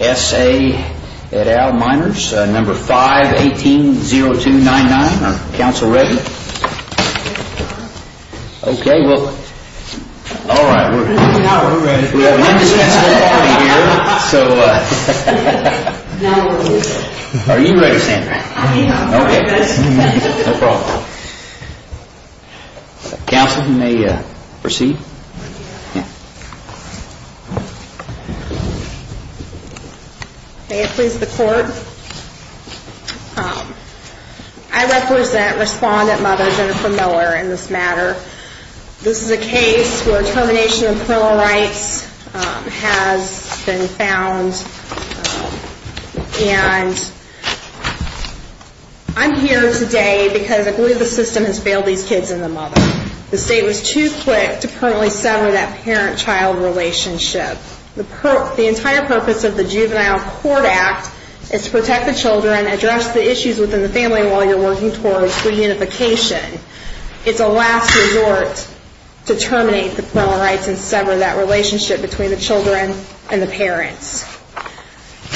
A at Al Miners, number 518-0299. Are you ready Sandra? I represent Respondent Mother Jennifer Miller in this matter. This is a case where termination of parental rights has been found and I'm here today because I believe the system has failed these kids and the mother. The state was too quick to permanently sever that parent-child relationship. The entire purpose of the Juvenile Court Act is to protect the children, address the issues within the family while you're working towards reunification. It's a last resort to terminate the parental rights and sever that relationship between the children and the parents.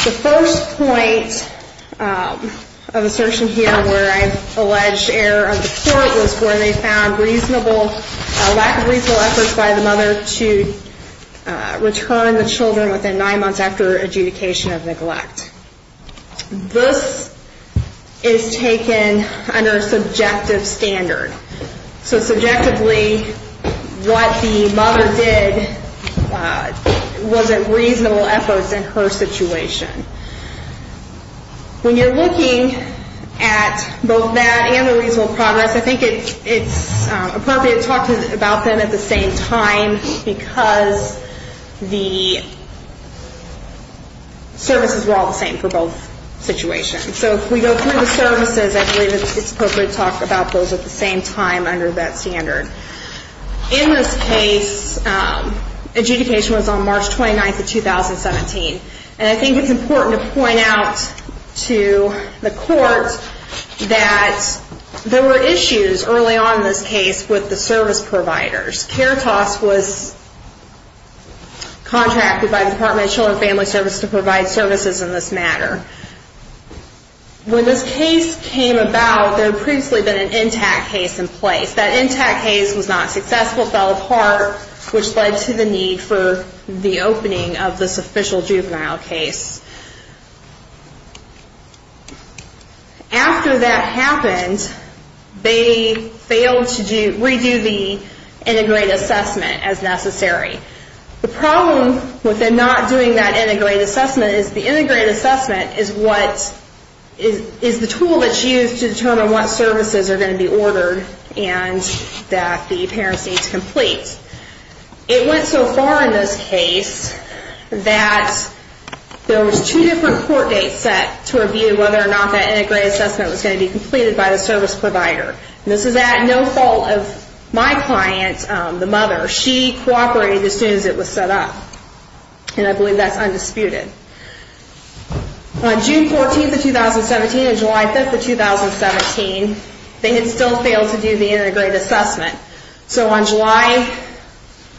The first point of assertion here where I've alleged error of the court was where they found lack of reasonable efforts by the mother to return the children within nine months after adjudication of neglect. This is taken under subjective standard. So subjectively what the mother did wasn't reasonable efforts in her situation. When you're looking at both that and the reasonable progress, I think it's appropriate to talk about them at the same time because the services were all the same for both situations. So if we go through the services, I believe it's appropriate to talk about those at the same time under that standard. In this case, adjudication was on March 29th of 2017 and I think it's important to point out to the court that there were issues early on in this case with the service providers. CARITAS was contracted by the Department of Children and Family Services to provide services in this matter. When this case came about, there had previously been an intact case in place. That intact case was not successful, fell apart, which led to the need for the opening of this official juvenile case. After that happened, they failed to redo the integrated assessment as necessary. The problem with not doing that integrated assessment is the integrated assessment is the tool that's used to determine what services are going to be ordered and that the parents need to complete. It went so far in this case that there was two different court dates set to review whether or not that integrated assessment was going to be completed by the service provider. This is at no fault of my client, the mother. She cooperated as soon as it was set up and I believe that's undisputed. On June 14th of 2017 and July 5th of 2017, they had still failed to do the integrated assessment. So on July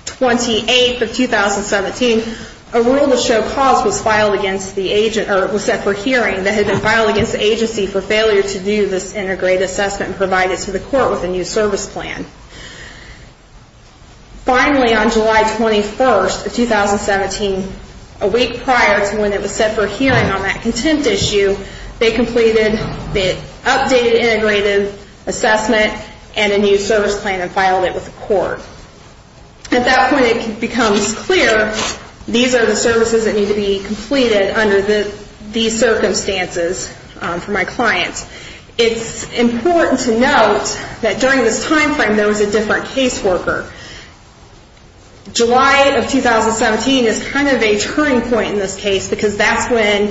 28th of 2017, a rule to show cause was set for hearing that had been filed against the agency for failure to do this integrated assessment provided to the court with a new service plan. Finally, on July 21st of 2017, a week prior to when it was set for hearing on that contempt issue, they completed the updated integrated assessment and a new service plan and filed it with the court. At that point, it becomes clear these are the services that need to be completed under these circumstances for my client. It's important to note that during this time frame, there was a different caseworker. July of 2017 is kind of a turning point in this case because that's when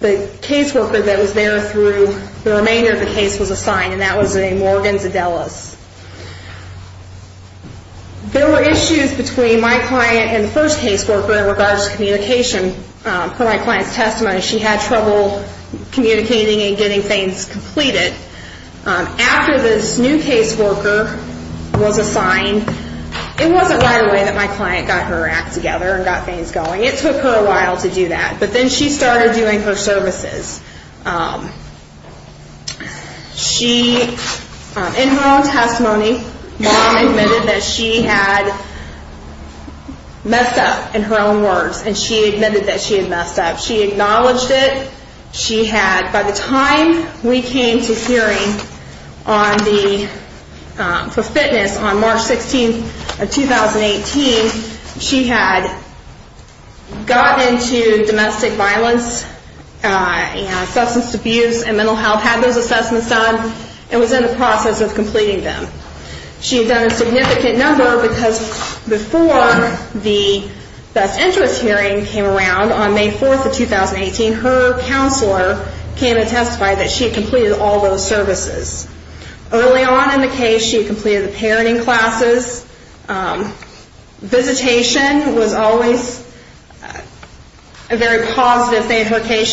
the caseworker that was there through the remainder of the case was assigned and that was a Morgan Zadellas. There were issues between my client and the first caseworker in regards to communication. For my client's testimony, she had trouble communicating and getting things completed. After this new caseworker was assigned, it wasn't right away that my client got her act together and got things going. It took her a while to do that, but then she started doing her services. In her own testimony, mom admitted that she had messed up in her own words and she admitted that she had messed up. She acknowledged it. She had, by the time we came to hearing on the, for fitness on March 16th of 2018, she had gotten into domestic violence and substance abuse and mental health, had those issues. It's a significant number because before the best interest hearing came around on May 4th of 2018, her counselor came and testified that she had completed all those services. Early on in the case, she had completed the parenting classes. Visitation was always a very positive thing in her case.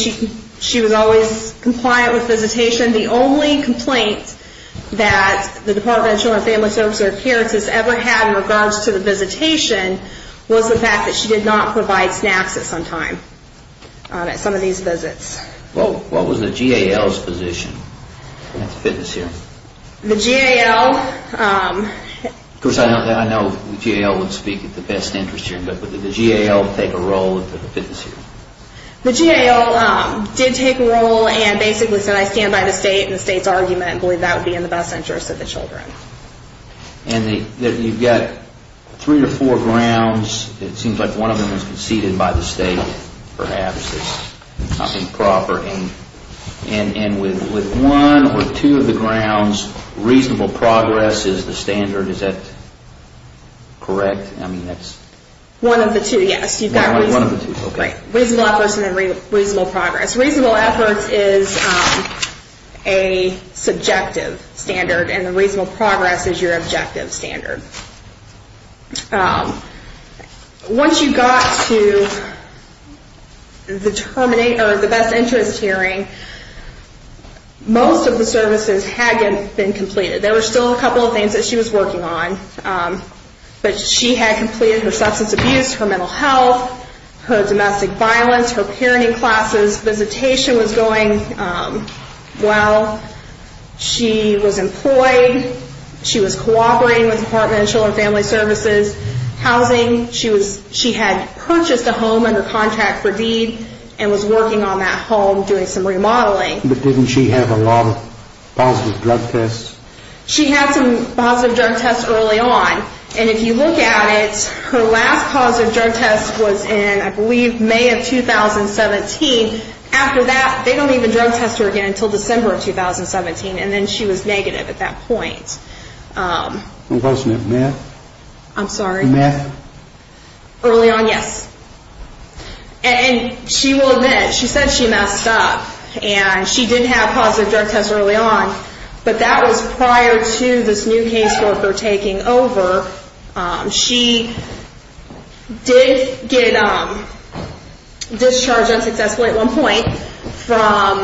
She was always compliant with visitation. The only issue that she ever had in regards to the visitation was the fact that she did not provide snacks at some time, at some of these visits. What was the GAL's position at the fitness hearing? The GAL... Of course, I know the GAL would speak at the best interest hearing, but did the GAL take a role at the fitness hearing? The GAL did take a role and basically said I stand by the state and the state's argument and believe that would be in the best interest of the children. And you've got three or four grounds. It seems like one of them was conceded by the state, perhaps. And with one or two of the grounds, reasonable progress is the standard. Is that correct? One of the two, yes. You've got reasonable efforts and then reasonable progress. Reasonable efforts is a subjective standard and reasonable progress is your objective standard. Once you got to the best interest hearing, most of the services had been completed. There were still a couple of things that she was working on. But she had completed her substance abuse, her mental health, her domestic violence, her parenting classes. Visitation was going well. She was employed. She was cooperating with the Department of Children and Family Services. Housing, she had purchased a home under contract for deed and was working on that home doing some remodeling. But didn't she have a lot of positive drug tests? She had some positive drug tests early on. And if you look at it, her last positive drug test was in, I believe, May of 2017. After that, they don't even drug test her again until December of 2017. And then she was negative at that point. Was it meth? I'm sorry? Meth? Early on, yes. And she will admit, she said she messed up. And she didn't have positive drug tests early on. But that was prior to this new caseworker taking over. She did get discharged unsuccessfully at one point from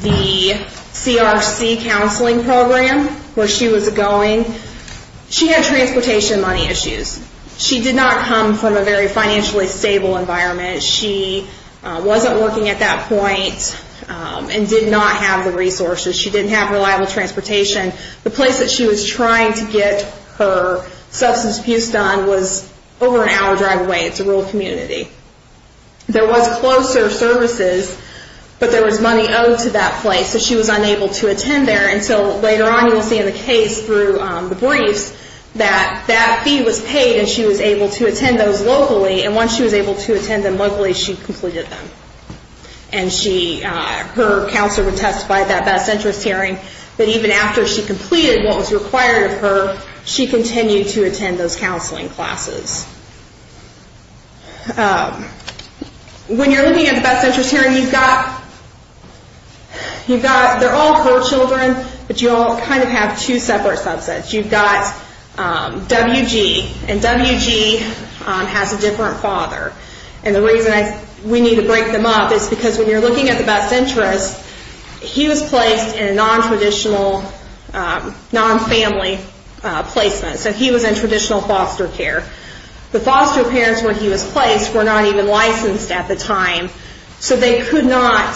the CRC counseling program where she was going. She had transportation money issues. She did not come from a very financially stable environment. She wasn't working at that point and did not have the resources. She didn't have reliable transportation. The place that she was trying to get her substance abuse done was over an hour drive away. It's a rural community. There was closer services, but there was money owed to that place. So she was unable to attend there until later on you will see in the case through the briefs that that fee was paid and she was able to attend those locally. And once she was able to attend them locally, she completed them. And she, her counselor would testify at that best interest hearing that even after she completed what was required of her, she continued to attend those counseling classes. When you're looking at the best interest hearing, you've got, you've got, they're all four children, but you all kind of have two separate subsets. You've got WG, and WG has a different father. And the reason we need to break them up is because when you're looking at the best interest, he was placed in a non-traditional, non-family placement. So he was in traditional foster care. The foster parents where he was placed were not even licensed at the time. So they could not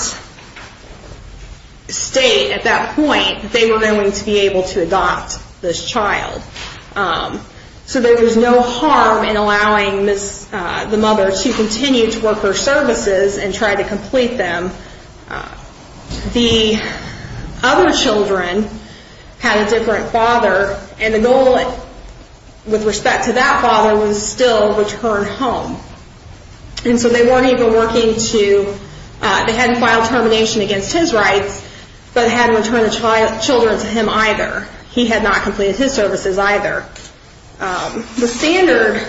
state at that point that they were going to be able to adopt this child. So there was no harm in allowing the mother to continue to work their services and try to complete them. The other children had a different father and the goal with respect to that father was still return home. And so they weren't even working to, they hadn't filed termination against his rights, but hadn't returned the children to him either. He had not completed his services either. The standard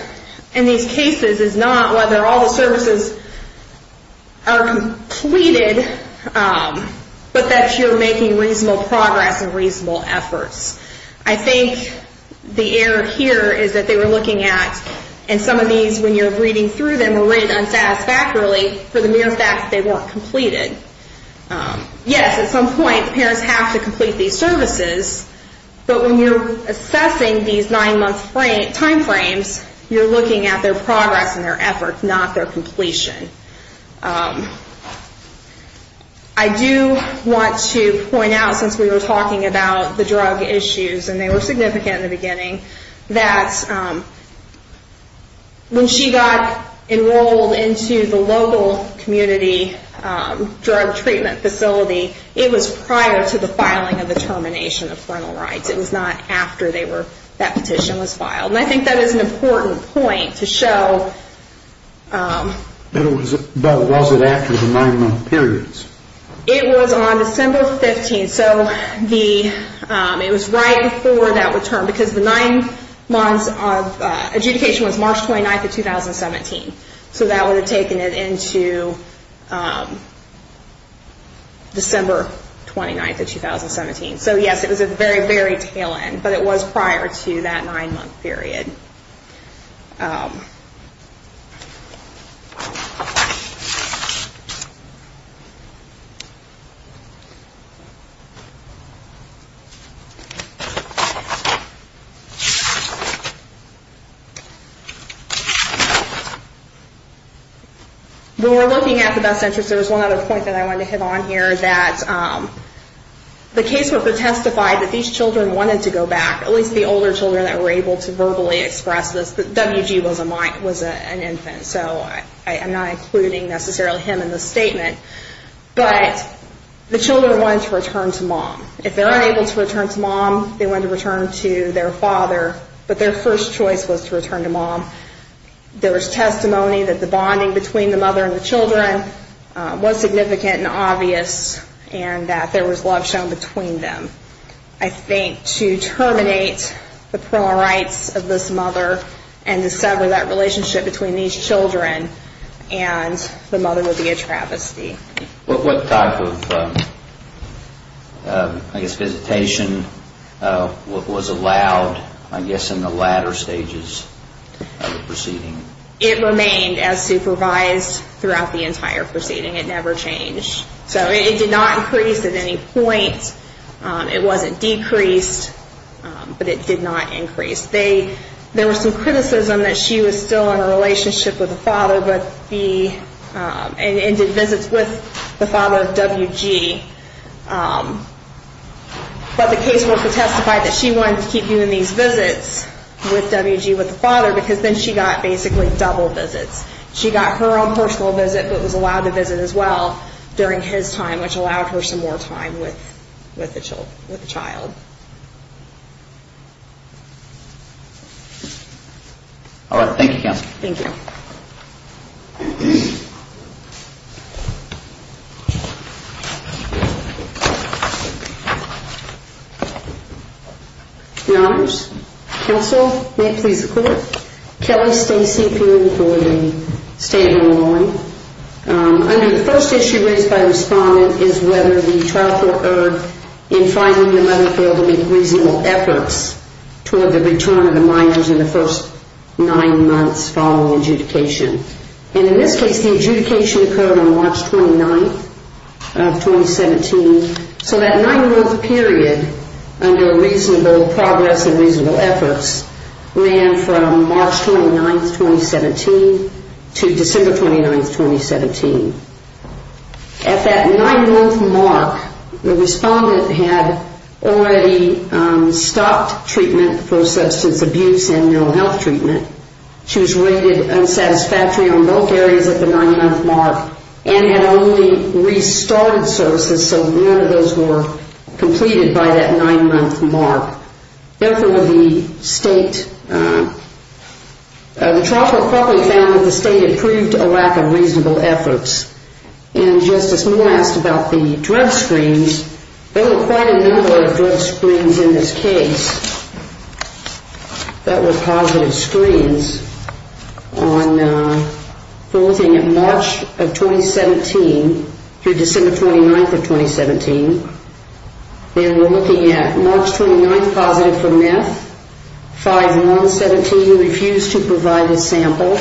in these cases is not whether all the services are completed, but that you're making reasonable progress and reasonable efforts. I think the error here is that they were looking at, and some of these when you're reading through them were rated unsatisfactorily for the mere fact that they weren't completed. Yes, at some point the parents have to complete these services, but when you're assessing these nine month time frames, you're looking at their progress and their effort, not their issues, and they were significant in the beginning, that when she got enrolled into the local community drug treatment facility, it was prior to the filing of the termination of parental rights. It was not after that petition was filed. And I think that is an important point to show that it wasn't after the nine month periods. It was on December 15th, so it was right before that return, because the nine months of adjudication was March 29th of 2017, so that would have taken it into December 29th of 2017. So yes, it was at the very, very tail end, but it was prior to that nine month period. When we're looking at the best interest, there was one other point that I wanted to hit on here, that the caseworker testified that these children wanted to go back, at least the older children that were able to verbally express this. W.G. was an infant, so I'm not including necessarily him in this statement, but the children wanted to return to mom. If they're unable to return to mom, they wanted to return to their father, but their first choice was to return to mom. There was testimony that the bonding between the mother and the children was significant and obvious, and that there was love shown between them. I think to terminate the parental rights of this mother, and to sever that relationship between these children, and the mother would be a travesty. What type of, I guess, visitation was allowed, I guess, in the latter stages of the proceeding? It remained as supervised throughout the entire proceeding. It never changed. So it did not increase at any point. It wasn't decreased, but it did not increase. There was some criticism that she was still in a relationship with the father, and did visits with the father of W.G., but the caseworker testified that she wanted to keep doing these visits with W.G., with the father, because then she got basically double visits. She got her own personal visit, but was allowed to visit as well during his time, which allowed her some more time with the child. Thank you, Counsel. Thank you. Counsel, may it please the Court. Kelly Stacey, appearing for the State of Illinois. Under the first issue raised by the Respondent is whether the trial court erred in finding the mother failed to make reasonable efforts toward the return of the minors in the first nine months following adjudication. And in this case, the adjudication occurred on March 29th of 2017, so that nine-month period, under a reasonable progress and reasonable efforts, ran from March 29th, 2017, to December 29th, 2017. At that nine-month mark, the Respondent had already stopped treatment for substance abuse and mental health treatment. She was rated unsatisfactory on both areas at the nine-month mark, and had only restarted services, so none of those were completed by that nine-month mark. The trial court probably found that the State had proved a lack of reasonable efforts. And Justice Moore asked about the drug screens. There were quite a number of drug screens in this case that were positive for methamphetamine, and there were a number of negative screens on March of 2017 through December 29th of 2017. And we're looking at March 29th positive for meth, 5-1-17 refused to provide a sample.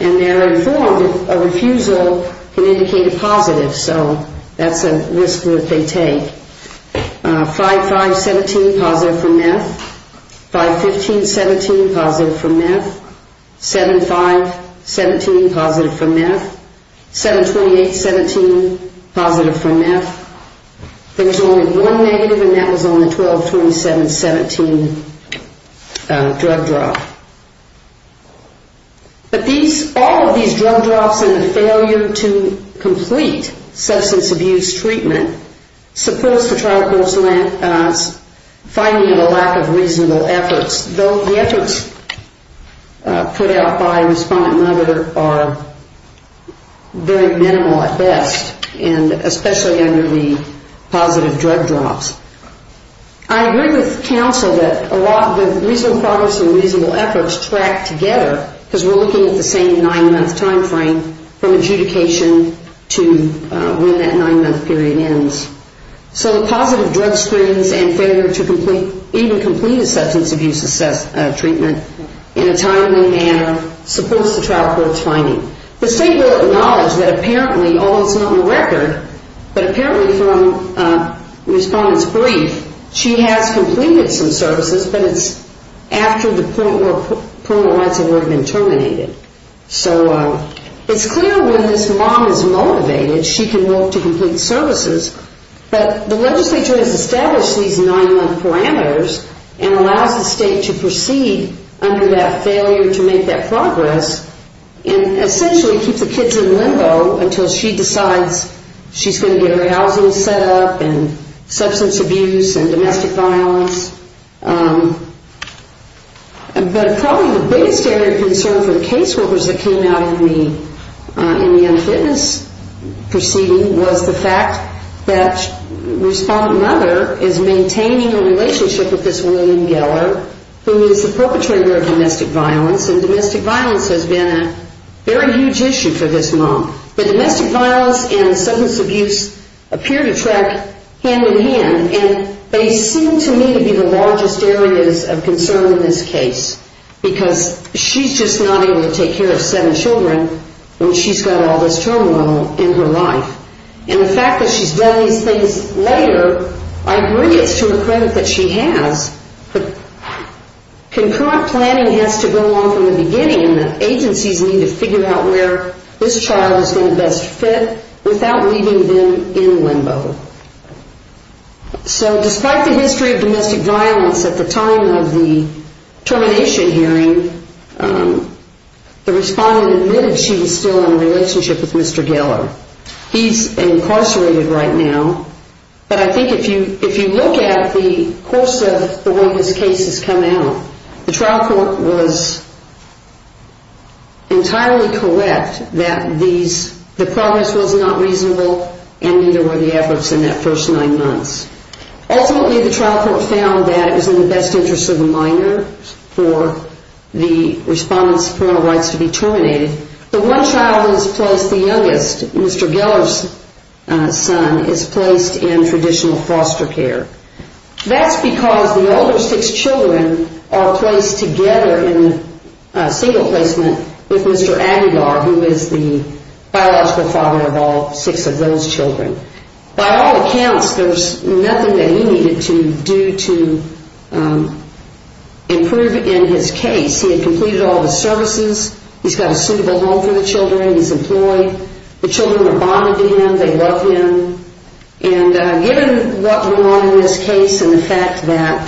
And they're informed that a refusal can indicate a positive, so that's a risk that they take. 5-5-17 positive for meth, 5-15-17 positive for meth, 7-5-17 positive for meth, 7-28-17 positive for meth. There was only one negative, and that was on the 12-27-17 drug drop. But these, all of these drug drops and the failure to complete substance abuse treatment supports the trial court's finding of a lack of reasonable efforts, though the efforts put out by respondent mother are very minimal at best, and especially under the positive drug drops. I agree with counsel that a lot of reasonable progress and reasonable efforts track together because we're looking at the same nine-month time frame from adjudication to when that nine-month period ends. So the positive drug screens and failure to even complete a substance abuse assessment treatment in a timely manner supports the trial court's finding. The state will acknowledge that apparently, although it's not in the record, but apparently from the respondent's brief, she has completed some services, but it's after the point where criminal rights have already been terminated. So it's clear when this mom is motivated, she can look to complete services, but the legislature has established these nine-month parameters and allows the state to proceed under that failure to make that progress and essentially keeps the kids in limbo until she decides she's going to get her housing set up and substance abuse and domestic violence. But probably the biggest area of concern for the caseworkers that came out in the unfitness proceeding was the fact that respondent mother is maintaining a relationship with this William Geller, who is the perpetrator of domestic violence, and domestic violence has been a very huge issue for this mom. But domestic violence and substance abuse appear to track hand in hand, and they seem to me to be the largest areas of concern in this case because she's just not able to take care of seven children when she's got all this turmoil in her life. And the fact that she's done these things later, I agree it's to the credit that she has, but concurrent planning has to go on from the beginning and the agencies need to figure out where this child is going to best fit without leaving them in limbo. So despite the history of domestic violence at the time of the termination hearing, the respondent admitted she was still in a relationship with Mr. Geller. He's incarcerated right now, but I think if you look at the course of the way this case has come out, the trial court was entirely correct that the progress was not reasonable and neither were the efforts in that first nine months. Ultimately the trial court found that it was in the best interest of the minor for the respondent's parental rights to be terminated. The one child who's placed the youngest, Mr. Geller's son, is placed in traditional foster care. That's because the older six children are placed together in single placement with Mr. Aguilar, who is the biological father of all six of those children. By all accounts, there's nothing that he needed to do to improve in his case. He had completed all the services. He's got a suitable home for the children. He's employed. The children are bonded to him. They love him. And given what went on in this case and the fact that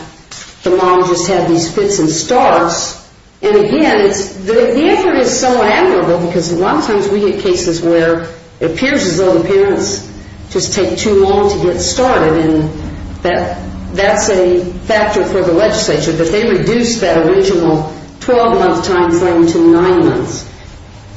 the mom just had these fits and starts, and again, the effort is so admirable because a lot of times we get cases where it appears as though the parents just take too long to get started and that's a factor for the legislature. But they reduced that original 12-month time frame to nine months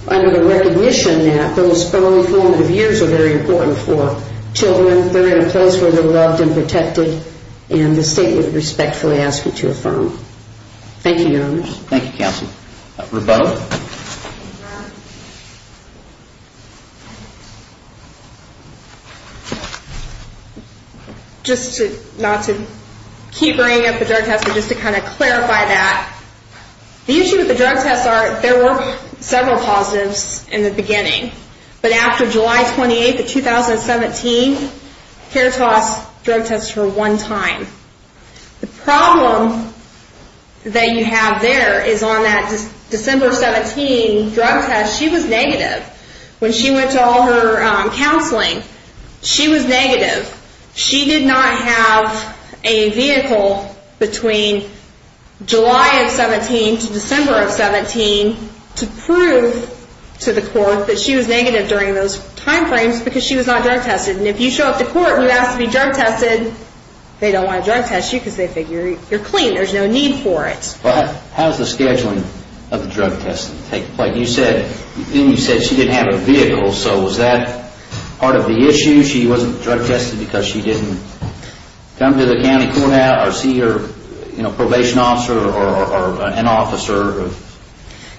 under the recognition that those early formative years are very important for children. They're in a place where they're loved and protected and the state would respectfully ask you to affirm. Thank you, Your Honors. Thank you, Counsel. Rebecca? Just to, not to keep bringing up the drug test, but just to kind of clarify that, the issue with the drug test, there were several positives in the beginning, but after July 28th of 2017, Kertos drug tested her one time. The problem that you have there is on that December 17 drug test, she was negative. When she went to all her counseling, she was negative. She did not have a vehicle between July of 17 to December of 17 to prove to the court that she was not drug tested. And if you show up to court and you ask to be drug tested, they don't want to drug test you because they figure you're clean. There's no need for it. How's the scheduling of the drug testing? Like you said, you said she didn't have a vehicle, so was that part of the issue? She wasn't drug tested because she didn't come to the county courthouse or see her probation officer or an officer?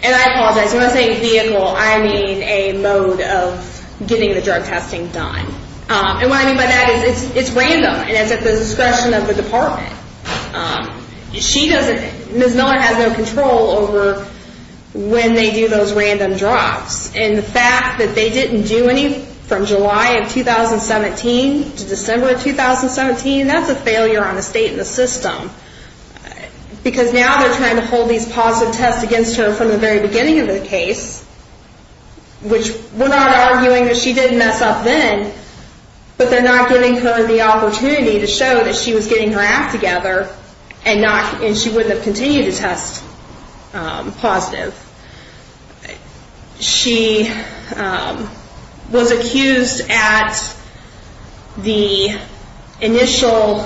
And I apologize, when I say vehicle, I mean a mode of getting the drug testing done. And what I mean by that is it's random and it's at the discretion of the department. She doesn't, Ms. Miller has no control over when they do those random drops. And the fact that they didn't do any from July of 2017 to December of 2017, that's a failure on the state and the state. I mean, they didn't test against her from the very beginning of the case, which we're not arguing that she didn't mess up then, but they're not giving her the opportunity to show that she was getting her act together and she wouldn't have continued to test positive. She was accused at the initial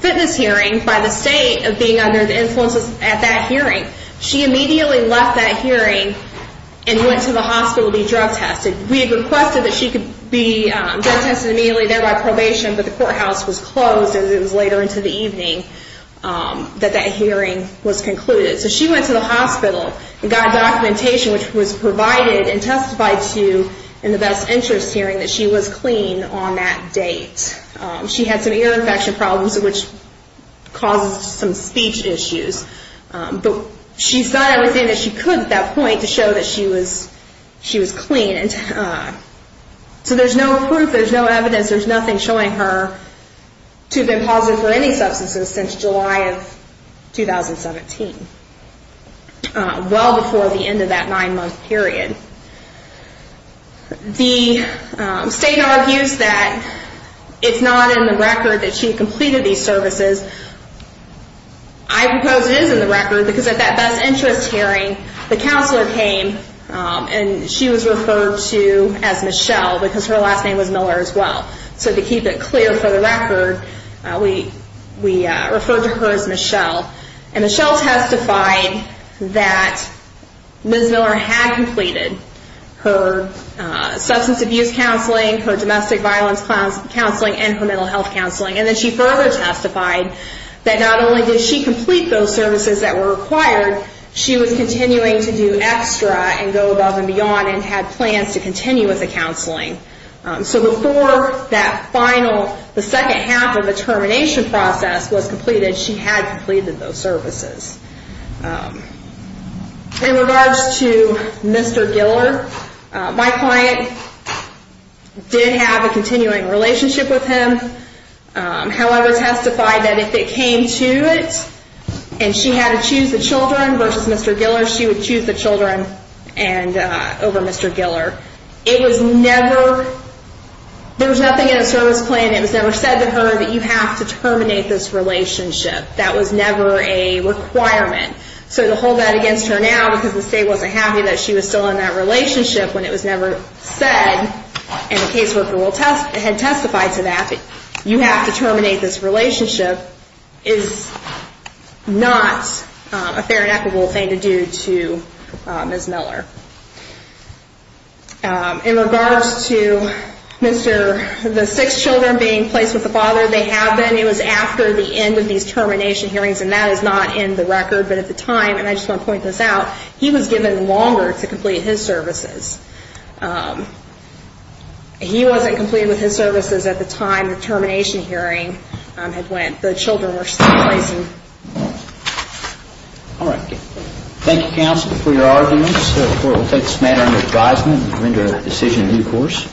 fitness hearing by the state of being under the influence at that hearing. She immediately left that hearing and went to the hospital to be drug tested. We requested that she could be drug tested immediately, thereby probation, but the courthouse was closed as it was later into the evening that that hearing was concluded. So she went to the hospital and got documentation, which was provided and testified to in the best interest hearing that she was clean on that date. She had some ear infection problems, which caused some speech issues, but she's done everything that she could at that point to show that she was clean. So there's no proof, there's no evidence, there's nothing showing her to have been positive for any substances since July of 2017, well before the end of that nine-month period. The state argues that it's not in the record that she completed these services. I propose it is in the record because at that best interest hearing, the counselor came and she was referred to as Michelle because her last name was Miller as well. So to keep it clear for the record, we referred to her as Michelle. And Michelle testified that Ms. Miller had completed her substance abuse counseling, her domestic violence counseling, and her mental health counseling. And then she further testified that not only did she complete those services that were required, she was continuing to do extra and go above and beyond and had plans to continue with the counseling. So before that final, the second half of the termination process was completed, she had completed those services. In regards to Mr. Giller, my client did have a continuing relationship with him, however testified that if it came to it and she had to choose the children versus Mr. Giller, it was never, there was nothing in the service plan that was ever said to her that you have to terminate this relationship. That was never a requirement. So to hold that against her now because the state wasn't happy that she was still in that relationship when it was never said, and the caseworker had testified to that, you have to terminate this relationship, is not a fair and equitable thing to do to Ms. Miller. In regards to Mr., the six children being placed with the father they have been, it was after the end of these termination hearings, and that is not in the record, but at the time, and I just want to point this out, he was given longer to complete his services. He wasn't completed with his services at the time the termination hearing had went, the children were still raising. Thank you counsel for your arguments. We will take this matter under advisement and render a decision in due course.